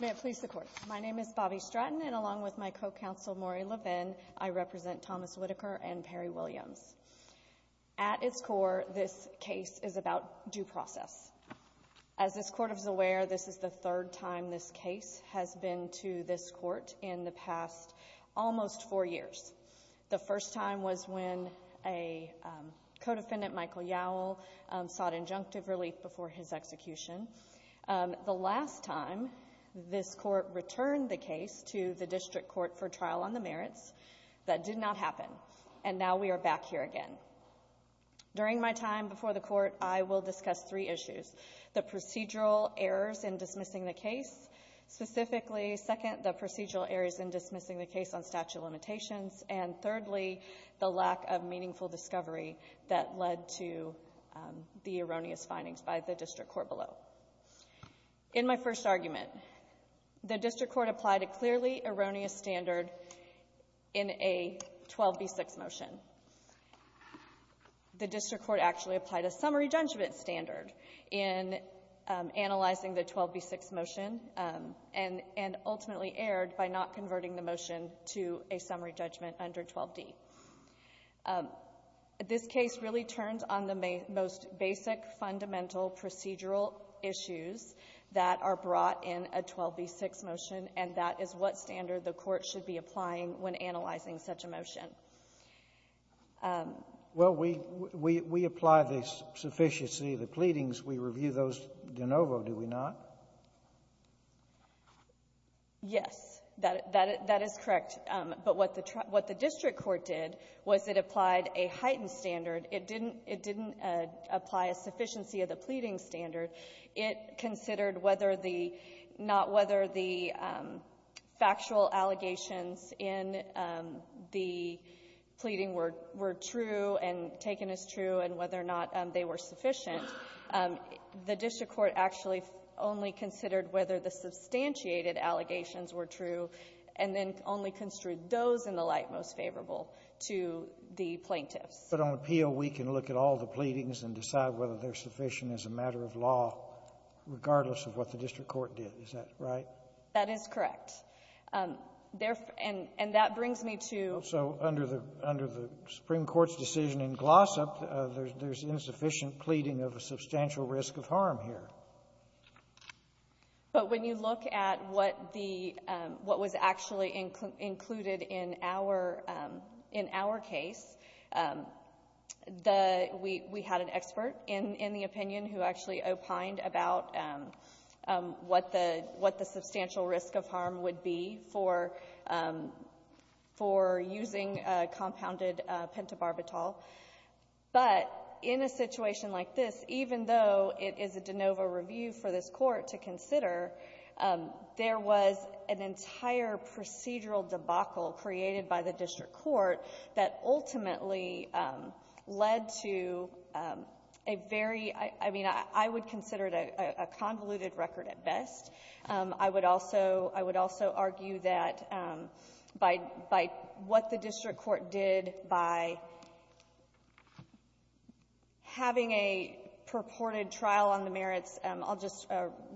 May it please the Court, my name is Bobbi Stratton and along with my co-counsel Maury Levin, I represent Thomas Whitaker and Perry Williams. At its core, this case is about due process. As this Court is aware, this is the third time this case has been to this Court in the past almost four years. The first time was when a co-defendant, Michael Yowell, sought injunctive relief before his execution. The last time this Court returned the case to the District Court for trial on the merits, that did not happen. And now we are back here again. During my time before the Court, I will discuss three issues. The procedural errors in dismissing the case, specifically, second, the procedural errors in dismissing the case on statute of limitations, and thirdly, the lack of meaningful discovery that led to the erroneous findings by the District Court below. In my first argument, the District Court applied a clearly erroneous standard in a 12b6 motion. The District Court actually applied a summary judgment standard in analyzing the 12b6 motion and ultimately erred by not converting the motion to a summary judgment under 12d. This case really turns on the most basic, fundamental procedural issues that are brought in a 12b6 motion, and that is what standard the Court should be applying when analyzing such a motion. Scalia. Well, we apply the sufficiency of the pleadings. We review those de novo, do we not? Yes, that is correct. But what the District Court did was it applied a heightened standard. It didn't apply a sufficiency of the pleading standard. It considered whether the — not whether the factual allegations in the pleading were true and taken as true and whether or not they were sufficient. The District Court actually only considered whether the substantiated allegations were true and then only construed those in the light most favorable to the plaintiffs. But on appeal, we can look at all the pleadings and decide whether they're sufficient as a matter of law, regardless of what the District Court did. Is that right? That is correct. And that brings me to — So under the — under the Supreme Court's decision in Glossop, there's insufficient pleading of a substantial risk of harm here. But when you look at what the — what was actually included in our — in our case, the — we had an expert in the opinion who actually opined about what the — what were using compounded pentobarbital. But in a situation like this, even though it is a de novo review for this Court to consider, there was an entire procedural debacle created by the District Court that ultimately led to a very — I mean, I would consider it a convoluted record at best. I would also — I would also argue that by — by what the District Court did, by having a purported trial on the merits, I'll just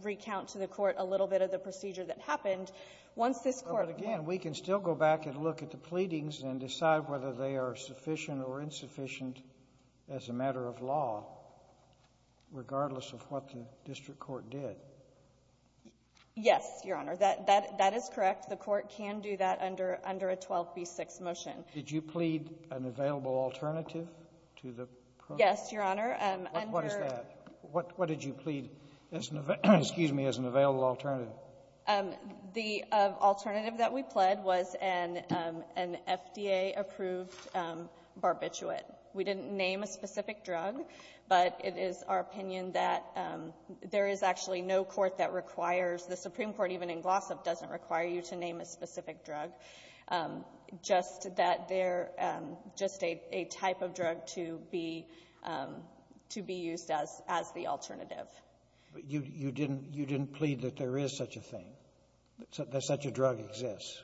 recount to the Court a little bit of the procedure that happened. Once this Court — But again, we can still go back and look at the pleadings and decide whether they are sufficient or insufficient as a matter of law, regardless of what the District Court did. Yes, Your Honor. That — that is correct. The Court can do that under — under a 12b-6 motion. Did you plead an available alternative to the program? Yes, Your Honor. Under — What is that? What did you plead as an — excuse me — as an available alternative? The alternative that we pled was an — an FDA-approved barbiturate. We didn't name a specific drug, but it is our opinion that there is actually no court that requires — the Supreme Court, even in Glossop, doesn't require you to name a specific drug, just that they're just a — a type of drug to be — to be used as — as the alternative. But you — you didn't — you didn't plead that there is such a thing, that such a drug exists?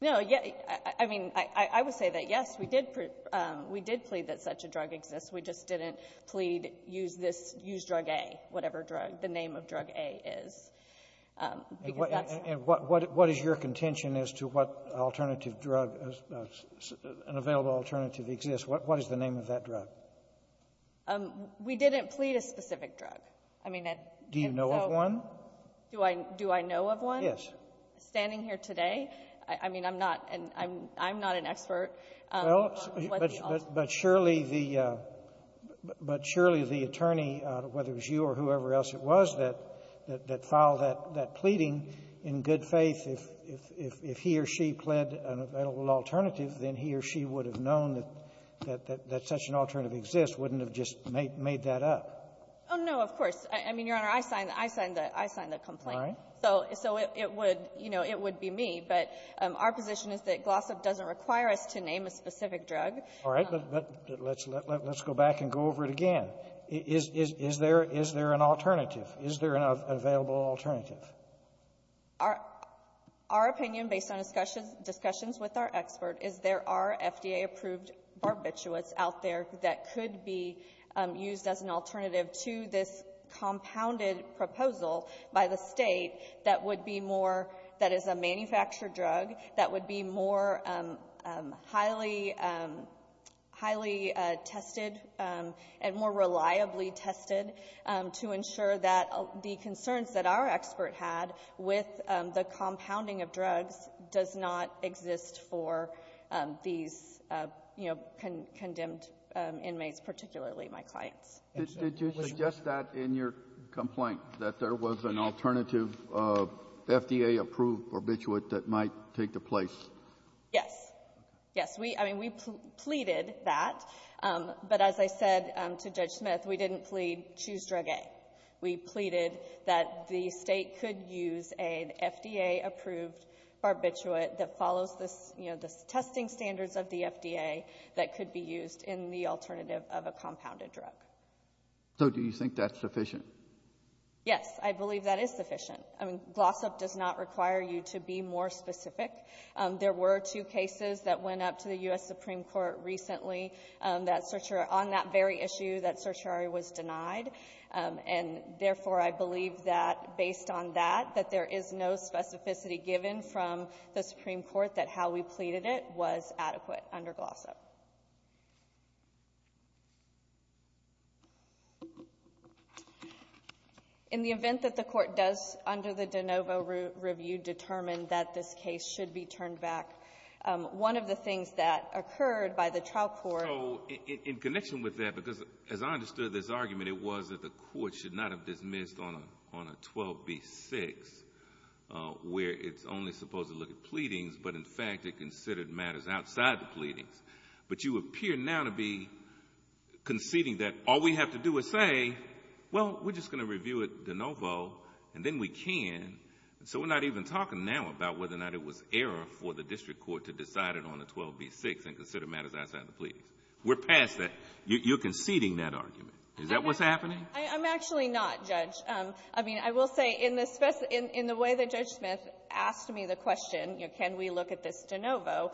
No. I mean, I would say that, yes, we did — we did plead that such a drug exists. We just didn't plead, use this — use drug A, whatever drug — the name of drug A is, because that's — And what — what is your contention as to what alternative drug — an available alternative exists? What is the name of that drug? We didn't plead a specific drug. I mean, that — Do you know of one? Do I — do I know of one? Yes. Standing here today, I mean, I'm not an — I'm not an expert on what the alternative is. But surely the — but surely the attorney, whether it was you or whoever else it was, that — that filed that — that pleading, in good faith, if — if he or she pled an available alternative, then he or she would have known that — that such an alternative exists, wouldn't have just made that up. Oh, no. Of course. I mean, Your Honor, I signed — I signed the — I signed the complaint. All right. So — so it would — you know, it would be me. But our position is that Glossip doesn't require us to name a specific drug. All right. But let's — let's go back and go over it again. Is — is there — is there an alternative? Is there an available alternative? Our — our opinion, based on discussions with our expert, is there are FDA-approved barbiturates out there that could be used as an alternative to this compounded drug proposal by the State that would be more — that is a manufactured drug that would be more highly — highly tested and more reliably tested to ensure that the concerns that our expert had with the compounding of drugs does not exist for these, you know, condemned inmates, particularly my clients. Did you suggest that in your complaint, that there was an alternative FDA-approved barbiturate that might take the place? Yes. Yes. We — I mean, we pleaded that. But as I said to Judge Smith, we didn't plead choose drug A. We pleaded that the State could use an FDA-approved barbiturate that follows the — you know, the testing standards of the FDA that could be used in the alternative of a compounded drug. So do you think that's sufficient? Yes. I believe that is sufficient. I mean, gloss up does not require you to be more specific. There were two cases that went up to the U.S. Supreme Court recently that — on that very issue that certiorari was denied. And therefore, I believe that, based on that, that there is no specificity given from the under gloss up. In the event that the Court does, under the De Novo review, determine that this case should be turned back, one of the things that occurred by the trial court — So in connection with that, because as I understood this argument, it was that the Court should not have dismissed on a 12b6, where it's only supposed to look at pleadings, but in fact it considered matters outside the pleadings. But you appear now to be conceding that all we have to do is say, well, we're just going to review it De Novo, and then we can. So we're not even talking now about whether or not it was error for the district court to decide it on a 12b6 and consider matters outside the pleadings. We're past that. You're conceding that argument. Is that what's happening? I'm actually not, Judge. I mean, I will say, in the way that Judge Smith asked me the question, you know, can we look at this De Novo,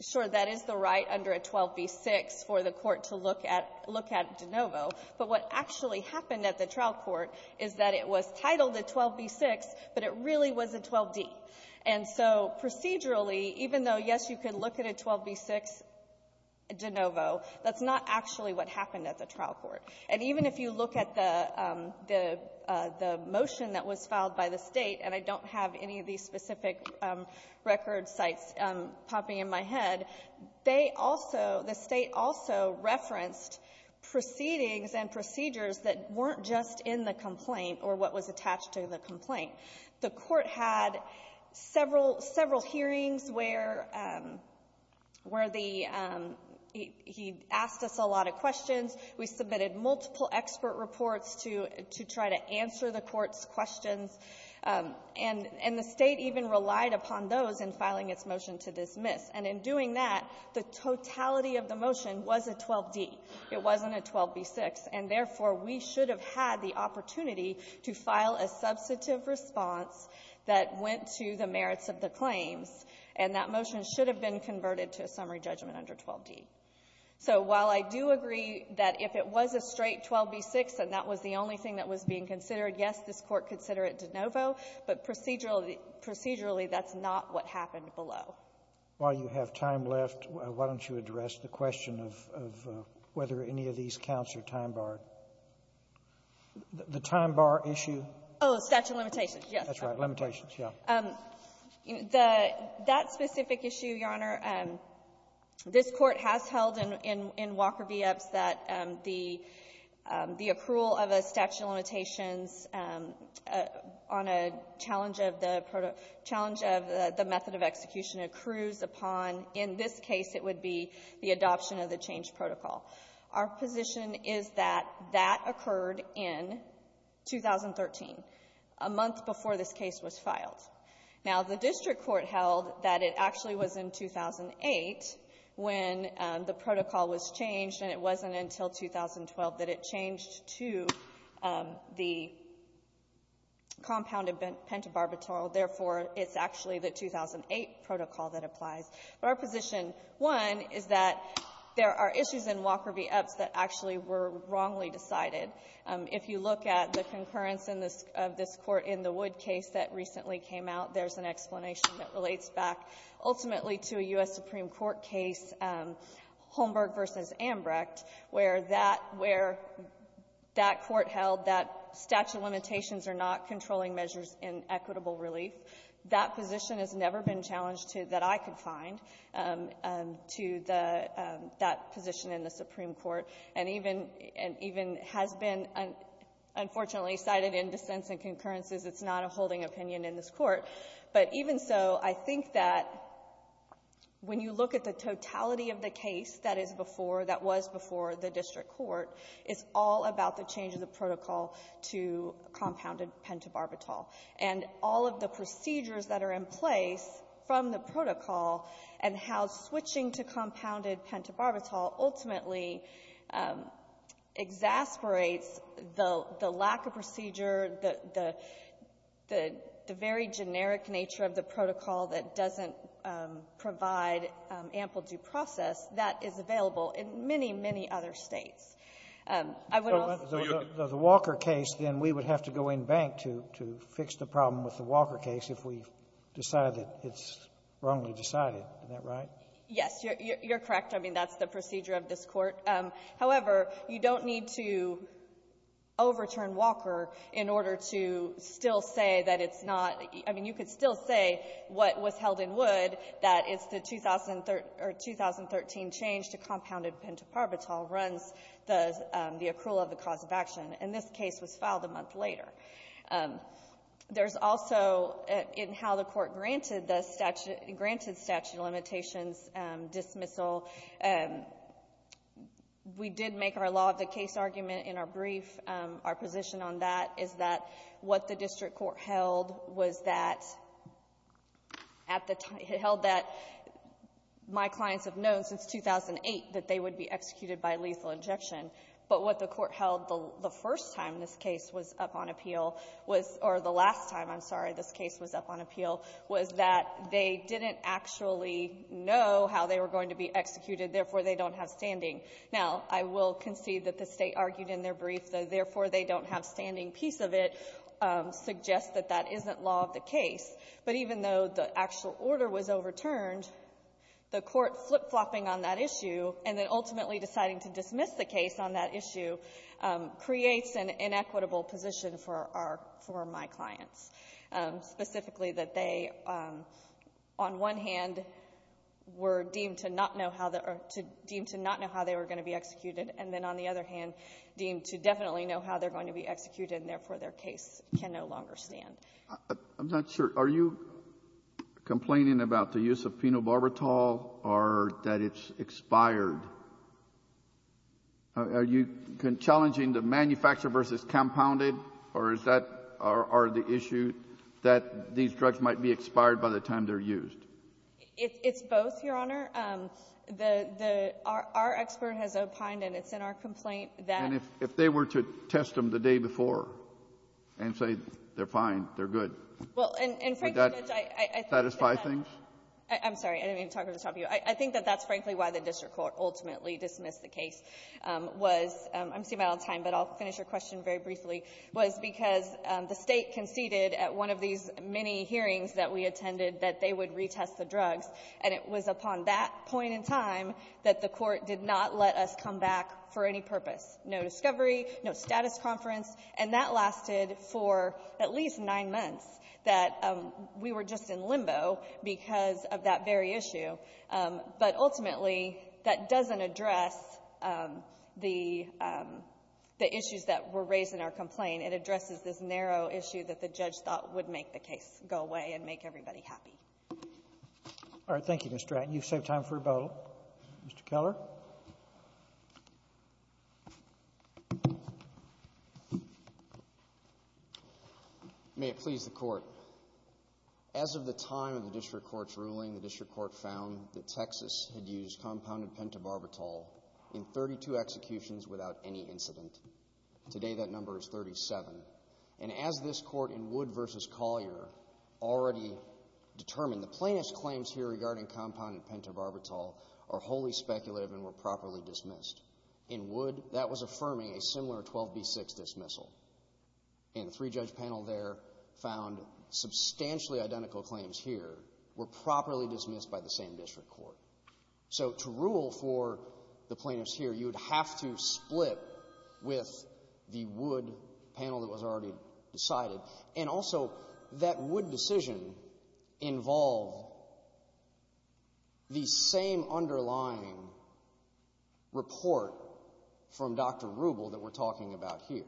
sure, that is the right under a 12b6 for the Court to look at — look at De Novo. But what actually happened at the trial court is that it was titled a 12b6, but it really was a 12d. And so procedurally, even though, yes, you could look at a 12b6 De Novo, that's not actually what happened at the trial court. And even if you look at the — the motion that was filed by the State, and I don't have any of these specific record sites popping in my head, they also — the State also referenced proceedings and procedures that weren't just in the complaint or what was attached to the complaint. The Court had several — several hearings where the — he asked us a lot of questions. We submitted multiple expert reports to — to try to answer the Court's questions. And — and the State even relied upon those in filing its motion to dismiss. And in doing that, the totality of the motion was a 12d. It wasn't a 12b6. And therefore, we should have had the opportunity to file a substantive response that went to the merits of the claims, and that motion should have been converted to a summary judgment under 12d. So while I do agree that if it was a straight 12b6 and that was the only thing that was being considered, yes, this Court could consider it De Novo, but procedurally — procedurally, that's not what happened below. Sotomayor, why don't you address the question of whether any of these counts are time-barred? The time-bar issue? Oh, statute of limitations. Yes. That's right. Limitations. Yes. The — that specific issue, Your Honor, this Court has held in — in Walker v. Epps that the — the accrual of a statute of limitations on a challenge of the — challenge of the method of execution accrues upon — in this case, it would be the adoption of the change protocol. Our position is that that occurred in 2013, a month before this case was filed. Now, the district court held that it actually was in 2008 when the protocol was changed, and it wasn't until 2012 that it changed to the compounded pentabarbital. Therefore, it's actually the 2008 protocol that applies. But our position, one, is that there are issues in Walker v. Epps that actually were wrongly decided. If you look at the concurrence in this — of this court in the Wood case that recently came out, there's an explanation that relates back ultimately to a U.S. Supreme Court case, Holmberg v. Ambrecht, where that — where that court held that statute of limitations are not controlling measures in equitable relief. That position has never been challenged to — that I could find to the — that position in the Supreme Court, and even — and even has been, unfortunately, cited in dissents and concurrences. It's not a holding opinion in this court. But even so, I think that when you look at the totality of the case that is before — that was before the district court, it's all about the change of the protocol to compounded pentabarbital. And all of the procedures that are in place from the protocol and how switching to compounded pentabarbital ultimately exasperates the lack of procedure, the — the — the very generic nature of the protocol that doesn't provide ample due process that is available in many, many other States. I would also — The Walker case, then, we would have to go in bank to — to fix the problem with the Walker case if we decide that it's wrongly decided. Isn't that right? Yes. You're — you're correct. I mean, that's the procedure of this court. However, you don't need to overturn Walker in order to still say that it's not — I mean, you could still say what was held in Wood, that it's the 2013 — or 2013 change to compounded pentabarbital runs the — the accrual of the cause of action. And this case was filed a month later. There's also, in how the court granted the statute — granted statute of limitations dismissal, we did make our law of the case argument in our brief. Our position on that is that what the district court held was that — at the — held that my clients have known since 2008 that they would be executed by lethal injection. But what the court held the first time this case was up on appeal was — or the last time, I'm sorry, this case was up on appeal, was that they didn't actually know how they were going to be executed. Therefore, they don't have standing. Now, I will concede that the State argued in their brief that, therefore, they don't have standing. A piece of it suggests that that isn't law of the case. But even though the actual order was overturned, the court flip-flopping on that issue and then ultimately deciding to dismiss the case on that issue creates an inequitable position for our — for my clients, specifically that they, on one hand, were deemed to not know how the — deemed to not know how they were going to be executed, and then, on the other hand, deemed to definitely know how they're going to be executed, and therefore, their case can no longer stand. I'm not sure. Are you complaining about the use of phenobarbital or that it's expired? Are you challenging the manufacturer versus compounded, or is that — or are the issue that these drugs might be expired by the time they're used? It's both, Your Honor. The — our expert has opined, and it's in our complaint that — And if they were to test them the day before and say, they're fine, they're good, would that satisfy things? Well, and, Frank, Judge, I think that — I'm sorry. I didn't mean to talk over the top of you. I think that that's, frankly, why the district court ultimately dismissed the case was — I'm seeing my own time, but I'll finish your question very briefly — was because the State conceded at one of these many hearings that we attended that they would retest the drugs, and it was upon that point in time that the court did not let us come back for any purpose. No discovery, no status conference, and that lasted for at least nine months, that we were just in limbo because of that very issue. But, ultimately, that doesn't address the — the issues that were raised in our complaint. It addresses this narrow issue that the judge thought would make the case go away and make everybody happy. All right. Thank you, Ms. Stratton. You've saved time for rebuttal. Mr. Keller. May it please the court. As of the time of the district court's ruling, the district court found that Texas had used compounded pentobarbital in 32 executions without any incident. Today, that number is 37. And as this court in Wood v. Collier already determined, the plaintiff's claims here regarding compounded pentobarbital are wholly speculative and were properly dismissed. In Wood, that was affirming a similar 12b-6 dismissal. And the three-judge panel there found substantially identical claims here were properly dismissed by the same district court. So to rule for the plaintiffs here, you would have to split with the Wood panel that was already decided. And also, that Wood decision involved the same underlying report from Dr. Rubel that we're talking about here.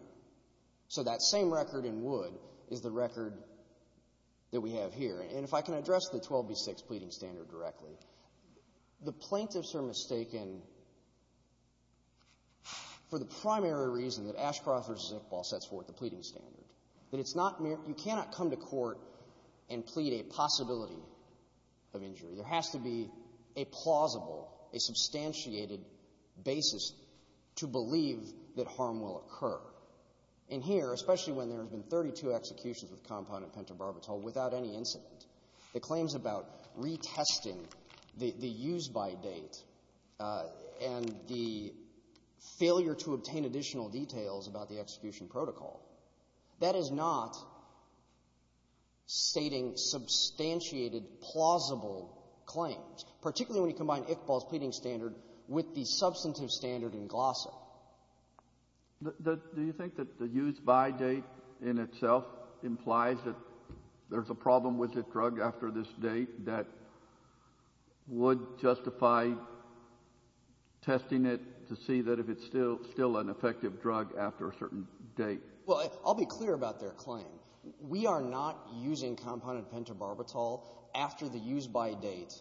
So that same record in Wood is the record that we have here. And if I can address the 12b-6 pleading standard directly, the plaintiffs are mistaken for the primary reason that Ashcroft v. Zickball sets forth the pleading standard, that it's not mere — you cannot come to court and plead a possibility of injury. There has to be a plausible, a substantiated basis to believe that harm will occur. And here, especially when there have been 32 executions with compounded pentobarbital without any incident, the claims about retesting the use-by date and the failure to obtain additional details about the execution protocol, that is not the case. That is not stating substantiated, plausible claims, particularly when you combine Zickball's pleading standard with the substantive standard in Glossa. Do you think that the use-by date in itself implies that there's a problem with a drug after this date that would justify testing it to see that if it's still an effective drug after a certain date? Well, I'll be clear about their claim. We are not using compounded pentobarbital after the use-by date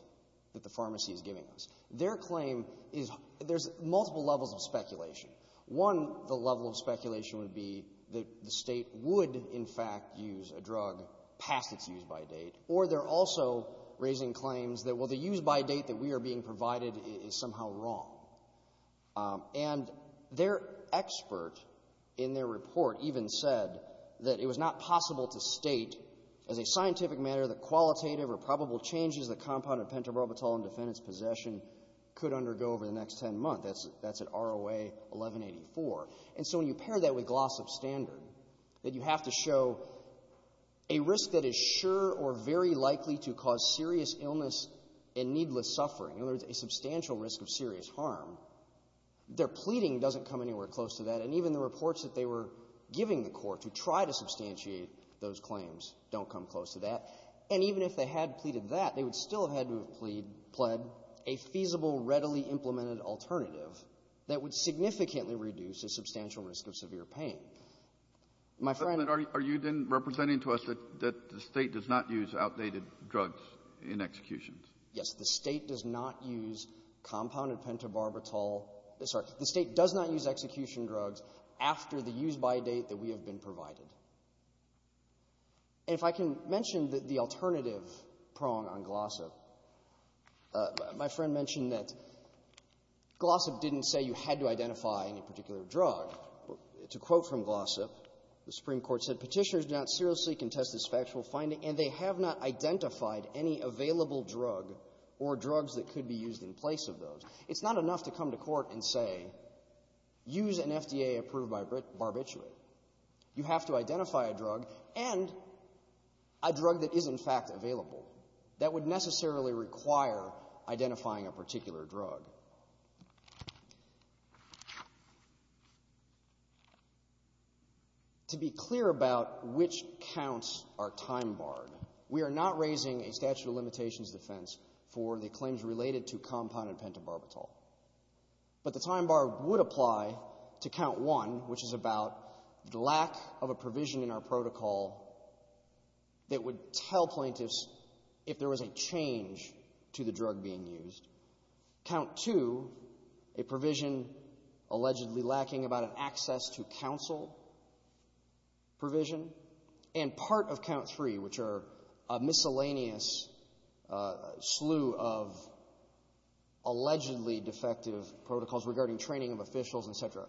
that the pharmacy is giving us. Their claim is — there's multiple levels of speculation. One, the level of speculation would be that the State would, in fact, use a drug past its use-by date, or they're also raising claims that, well, the use-by date that we are being provided is somehow wrong. And their expert in their report, even, said that it was not possible to state, as a scientific matter, that qualitative or probable changes that compounded pentobarbital in defendant's possession could undergo over the next 10 months. That's at ROA 1184. And so when you pair that with Glossa's standard, that you have to show a risk that is sure or very likely to cause serious illness and needless suffering, in other words, a substantial risk of serious harm, their pleading doesn't come anywhere close to that. And even the reports that they were giving the Court to try to substantiate those claims don't come close to that. And even if they had pleaded that, they would still have had to have plead — pled a feasible, readily-implemented alternative that would significantly reduce a substantial risk of severe pain. My friend — Kennedy. Are you then representing to us that the State does not use outdated drugs in executions? Yes. The State does not use compounded pentobarbital. Sorry. The State does not use execution drugs after the use-by date that we have been provided. And if I can mention the alternative prong on Glossa, my friend mentioned that Glossa didn't say you had to identify any particular drug. To quote from Glossa, the Supreme Court said, Petitioners do not seriously contest this factual finding, and they have not identified any available drug or drugs that could be used in place of those. It's not enough to come to court and say, use an FDA-approved barbiturate. You have to identify a drug and a drug that is, in fact, available. That would necessarily require identifying a particular drug. To be clear about which counts are time-barred, we are not raising a statute of limitations defense for the claims related to compounded pentobarbital. But the time bar would apply to Count 1, which is about the lack of a provision in our protocol that would tell plaintiffs if there was a change to the drug being used. Count 2, a provision allegedly lacking about an access to counsel provision. And part of Count 3, which are a miscellaneous slew of allegedly defective protocols regarding training of officials, et cetera.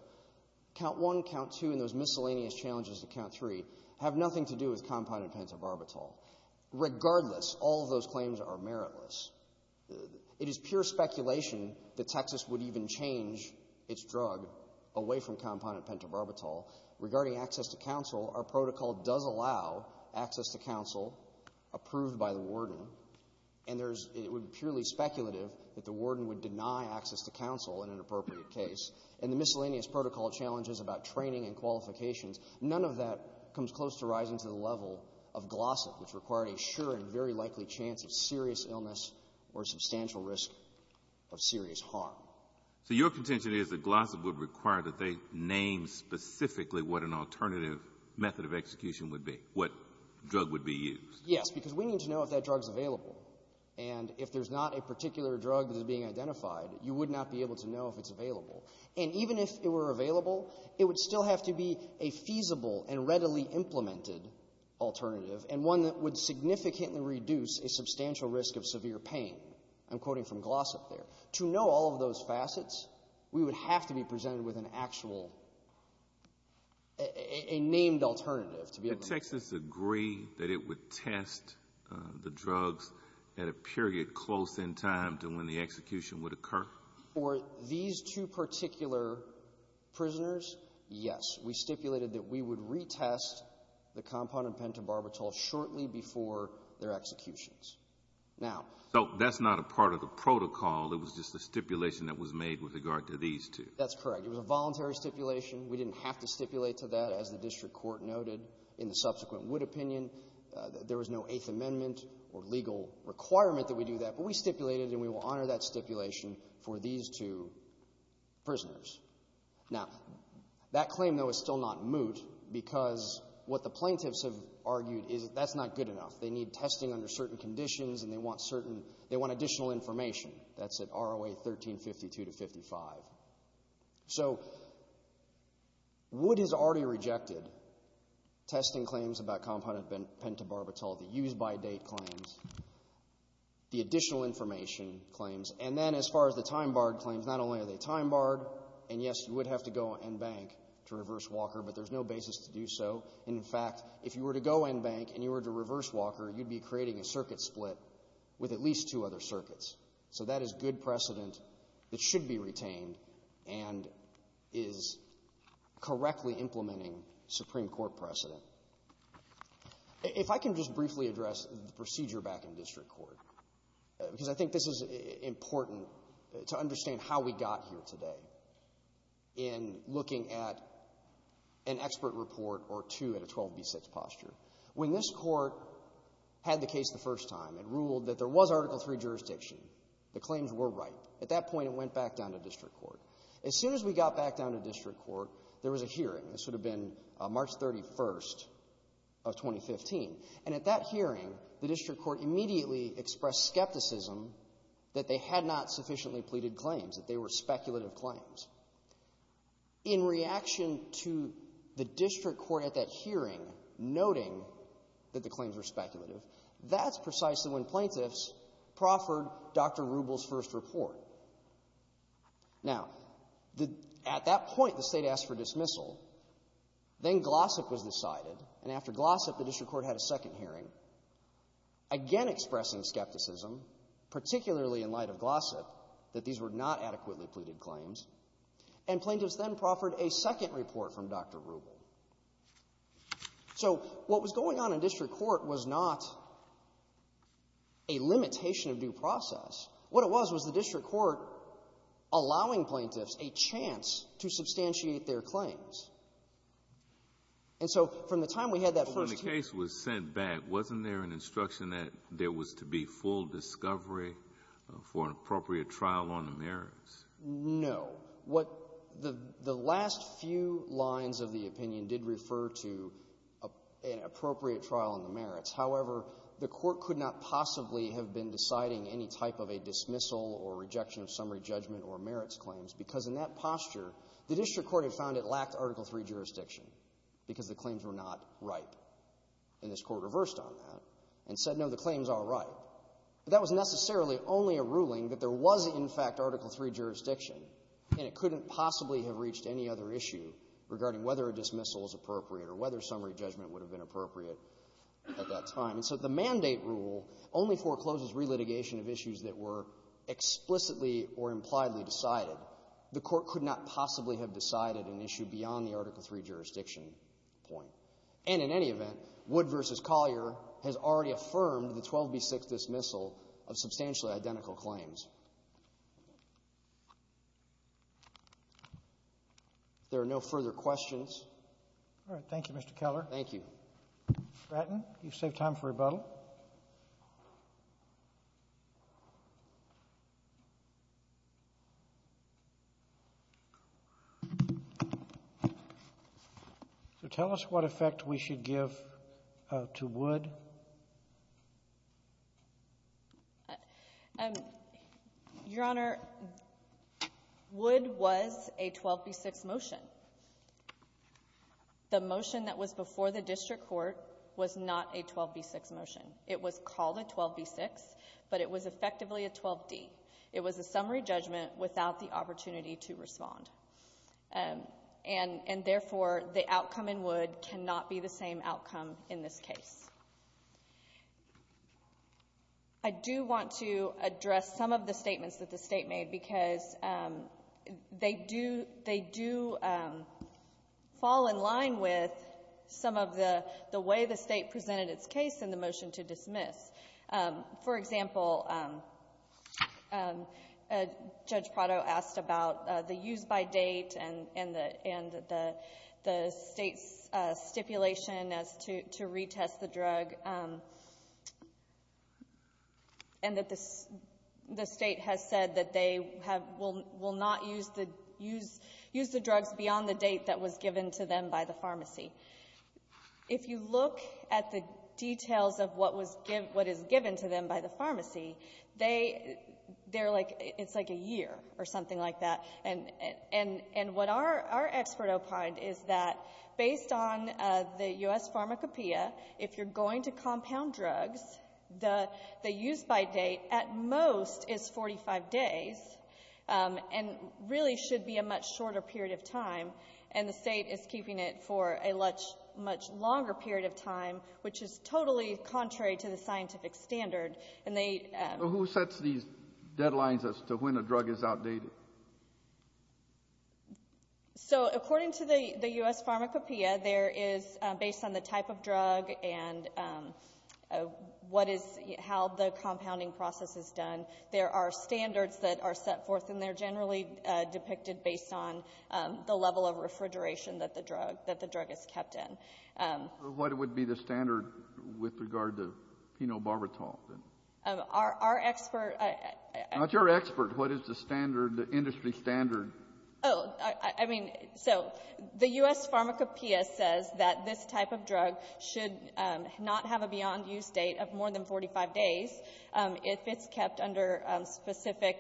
Count 1, Count 2, and those miscellaneous challenges to Count 3 have nothing to do with compounded pentobarbital. Regardless, all of those claims are meritless. It is pure speculation that Texas would even change its drug away from compounded pentobarbital. Regarding access to counsel, our protocol does allow access to counsel approved by the warden. And there's — it would be purely speculative that the warden would deny access to counsel in an appropriate case. And the miscellaneous protocol challenges about training and qualifications, none of that comes close to rising to the level of GLOSSIP, which required a sure and very likely chance of serious illness or substantial risk of serious harm. So your contention is that GLOSSIP would require that they name specifically what an alternative method of execution would be, what drug would be used. Yes. Because we need to know if that drug is available. And if there's not a particular drug that is being identified, you would not be able to know if it's available. And even if it were available, it would still have to be a feasible and readily implemented alternative, and one that would significantly reduce a substantial risk of severe pain. I'm quoting from GLOSSIP there. To know all of those facets, we would have to be presented with an actual — a named alternative to be able to — Did Texas agree that it would test the drugs at a period close in time to when the execution would occur? For these two particular prisoners, yes. We stipulated that we would retest the compounded Now — So that's not a part of the protocol. It was just a stipulation that was made with regard to these two. That's correct. It was a voluntary stipulation. We didn't have to stipulate to that, as the district court noted in the subsequent Wood opinion. There was no Eighth Amendment or legal requirement that we do that. But we stipulated, and we will honor that stipulation for these two prisoners. Now, that claim, though, is still not moot because what the plaintiffs have argued is that that's not good enough. They need testing under certain conditions, and they want certain — they want additional information. That's at ROA 1352 to 55. So, Wood has already rejected testing claims about compounded pentobarbital, the used-by-date claims, the additional information claims. And then, as far as the time-barred claims, not only are they time-barred, and, yes, you would have to go en banc to reverse Walker, but there's no basis to do so. And, in fact, if you were to go en banc and you were to reverse Walker, you'd be creating a circuit split with at least two other circuits. So that is good precedent that should be retained and is correctly implementing Supreme Court precedent. If I can just briefly address the procedure back in district court, because I think this is important to understand how we got here today in looking at an expert report or two at a 12b6 posture. When this Court had the case the first time, it ruled that there was Article III jurisdiction. The claims were right. At that point, it went back down to district court. As soon as we got back down to district court, there was a hearing. This would have been March 31st of 2015. And at that hearing, the district court immediately expressed skepticism that they had not sufficiently pleaded claims, that they were speculative claims. In reaction to the district court at that hearing noting that the claims were speculative, that's precisely when plaintiffs proffered Dr. Rubel's first report. Now, the — at that point, the State asked for dismissal. Then Glossop was decided, and after Glossop, the district court had a second hearing, again expressing skepticism, particularly in light of Glossop, that these were not adequately pleaded claims, and plaintiffs then proffered a second report from Dr. Rubel. So what was going on in district court was not a limitation of due process. What it was was the district court allowing plaintiffs a chance to substantiate their claims. And so from the time we had that first hearing — So when the case was sent back, wasn't there an instruction that there was to be full discovery for an appropriate trial on the merits? No. What the last few lines of the opinion did refer to an appropriate trial on the merits. However, the court could not possibly have been deciding any type of a dismissal or rejection of summary judgment or merits claims, because in that posture, the district court had found it lacked Article III jurisdiction, because the claims were not ripe. And this court reversed on that and said, no, the claims are ripe. But that was necessarily only a ruling that there was, in fact, Article III jurisdiction, and it couldn't possibly have reached any other issue regarding whether a dismissal was appropriate or whether summary judgment would have been appropriate at that time. And so the mandate rule only forecloses relitigation of issues that were explicitly or impliedly decided. The court could not possibly have decided an issue beyond the Article III jurisdiction point. And in any event, Wood v. Collier has already affirmed the 12b6 dismissal of substantially identical claims. If there are no further questions. All right. Thank you, Mr. Keller. Thank you. Bratton, you've saved time for rebuttal. So tell us what effect we should give to Wood. Your Honor, Wood was a 12b6 motion. So the motion that was before the district court was not a 12b6 motion. It was called a 12b6, but it was effectively a 12d. It was a summary judgment without the opportunity to respond. And therefore, the outcome in Wood cannot be the same outcome in this case. I do want to address some of the statements that the State made, because they do fall in line with some of the way the State presented its case in the motion to dismiss. For example, Judge Prado asked about the use by date and the State's stipulation as to retest the drug, and that the State has said that they will not use the drugs beyond the date that was given to them by the pharmacy. If you look at the details of what is given to them by the pharmacy, it's like a year or something like that. And what our expert opined is that, based on the U.S. pharmacopeia, if you're going to compound drugs, the use by date at most is 45 days, and really should be a much shorter period of time. And the State is keeping it for a much longer period of time, which is totally contrary to the scientific standard. Who sets these deadlines as to when a drug is outdated? So according to the U.S. pharmacopeia, based on the type of drug and how the compounding process is done, there are standards that are set forth, and they're generally depicted based on the level of refrigeration that the drug is kept in. What would be the standard with regard to phenobarbital? Our expert — Not your expert. What is the standard, the industry standard? Oh, I mean, so the U.S. pharmacopeia says that this type of drug should not have a beyond-use date of more than 45 days if it's kept under specific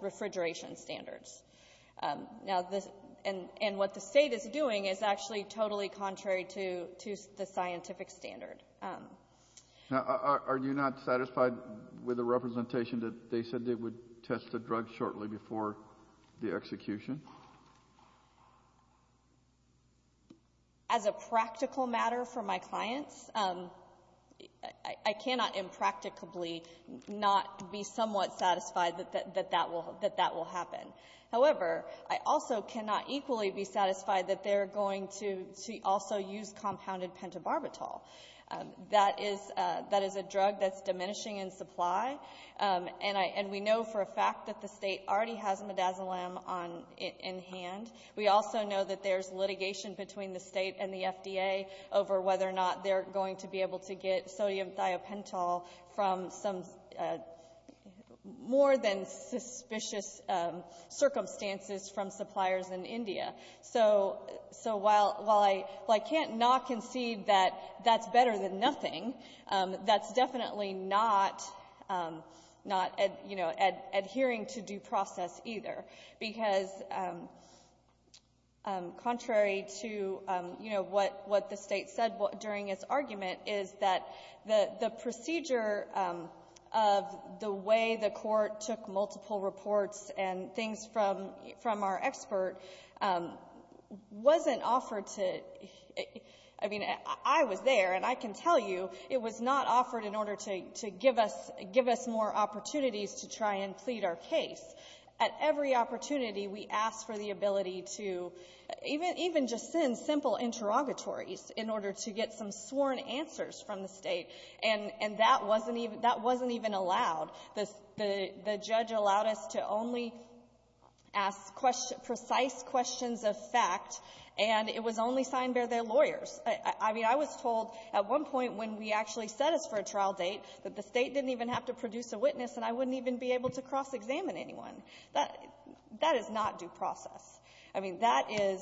refrigeration standards. Now, this — and what the State is doing is actually totally contrary to the scientific standard. Now, are you not satisfied with the representation that they said they would test the drug shortly before the execution? As a practical matter for my clients, I cannot impracticably not be somewhat satisfied that that will happen. However, I also cannot equally be satisfied that they're going to also use compounded pentobarbital. That is a drug that's diminishing in supply, and we know for a fact that the State already has midazolam in hand. We also know that there's litigation between the State and the FDA over whether or not they're going to be able to get sodium thiopental from some more than suspicious circumstances from suppliers in India. So while I can't not concede that that's better than nothing, that's definitely not adhering to due process, either, because contrary to, you know, what the State said during its argument is that the procedure of the way the Court took multiple reports and things from our expert wasn't offered to — I mean, I was there, and I can tell you it was not the case. At every opportunity, we asked for the ability to even just send simple interrogatories in order to get some sworn answers from the State, and that wasn't even — that wasn't even allowed. The — the judge allowed us to only ask precise questions of fact, and it was only signed by their lawyers. I mean, I was told at one point when we actually set us for a trial date that the State didn't even have to produce a witness, and I wouldn't even be able to cross-examine anyone. That — that is not due process. I mean, that is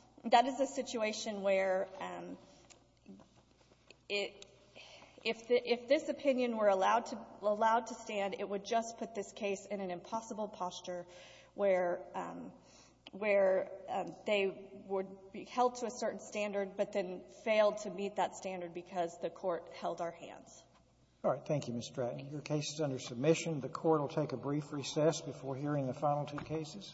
— that is a situation where it — if the — if this opinion were allowed to — allowed to stand, it would just put this case in an impossible posture where — where they would be held to a certain standard, but then failed to meet that standard because the Court held our hands. All right. Thank you, Ms. Stratton. Thank you. Your case is under submission. The Court will take a brief recess before hearing the final two cases.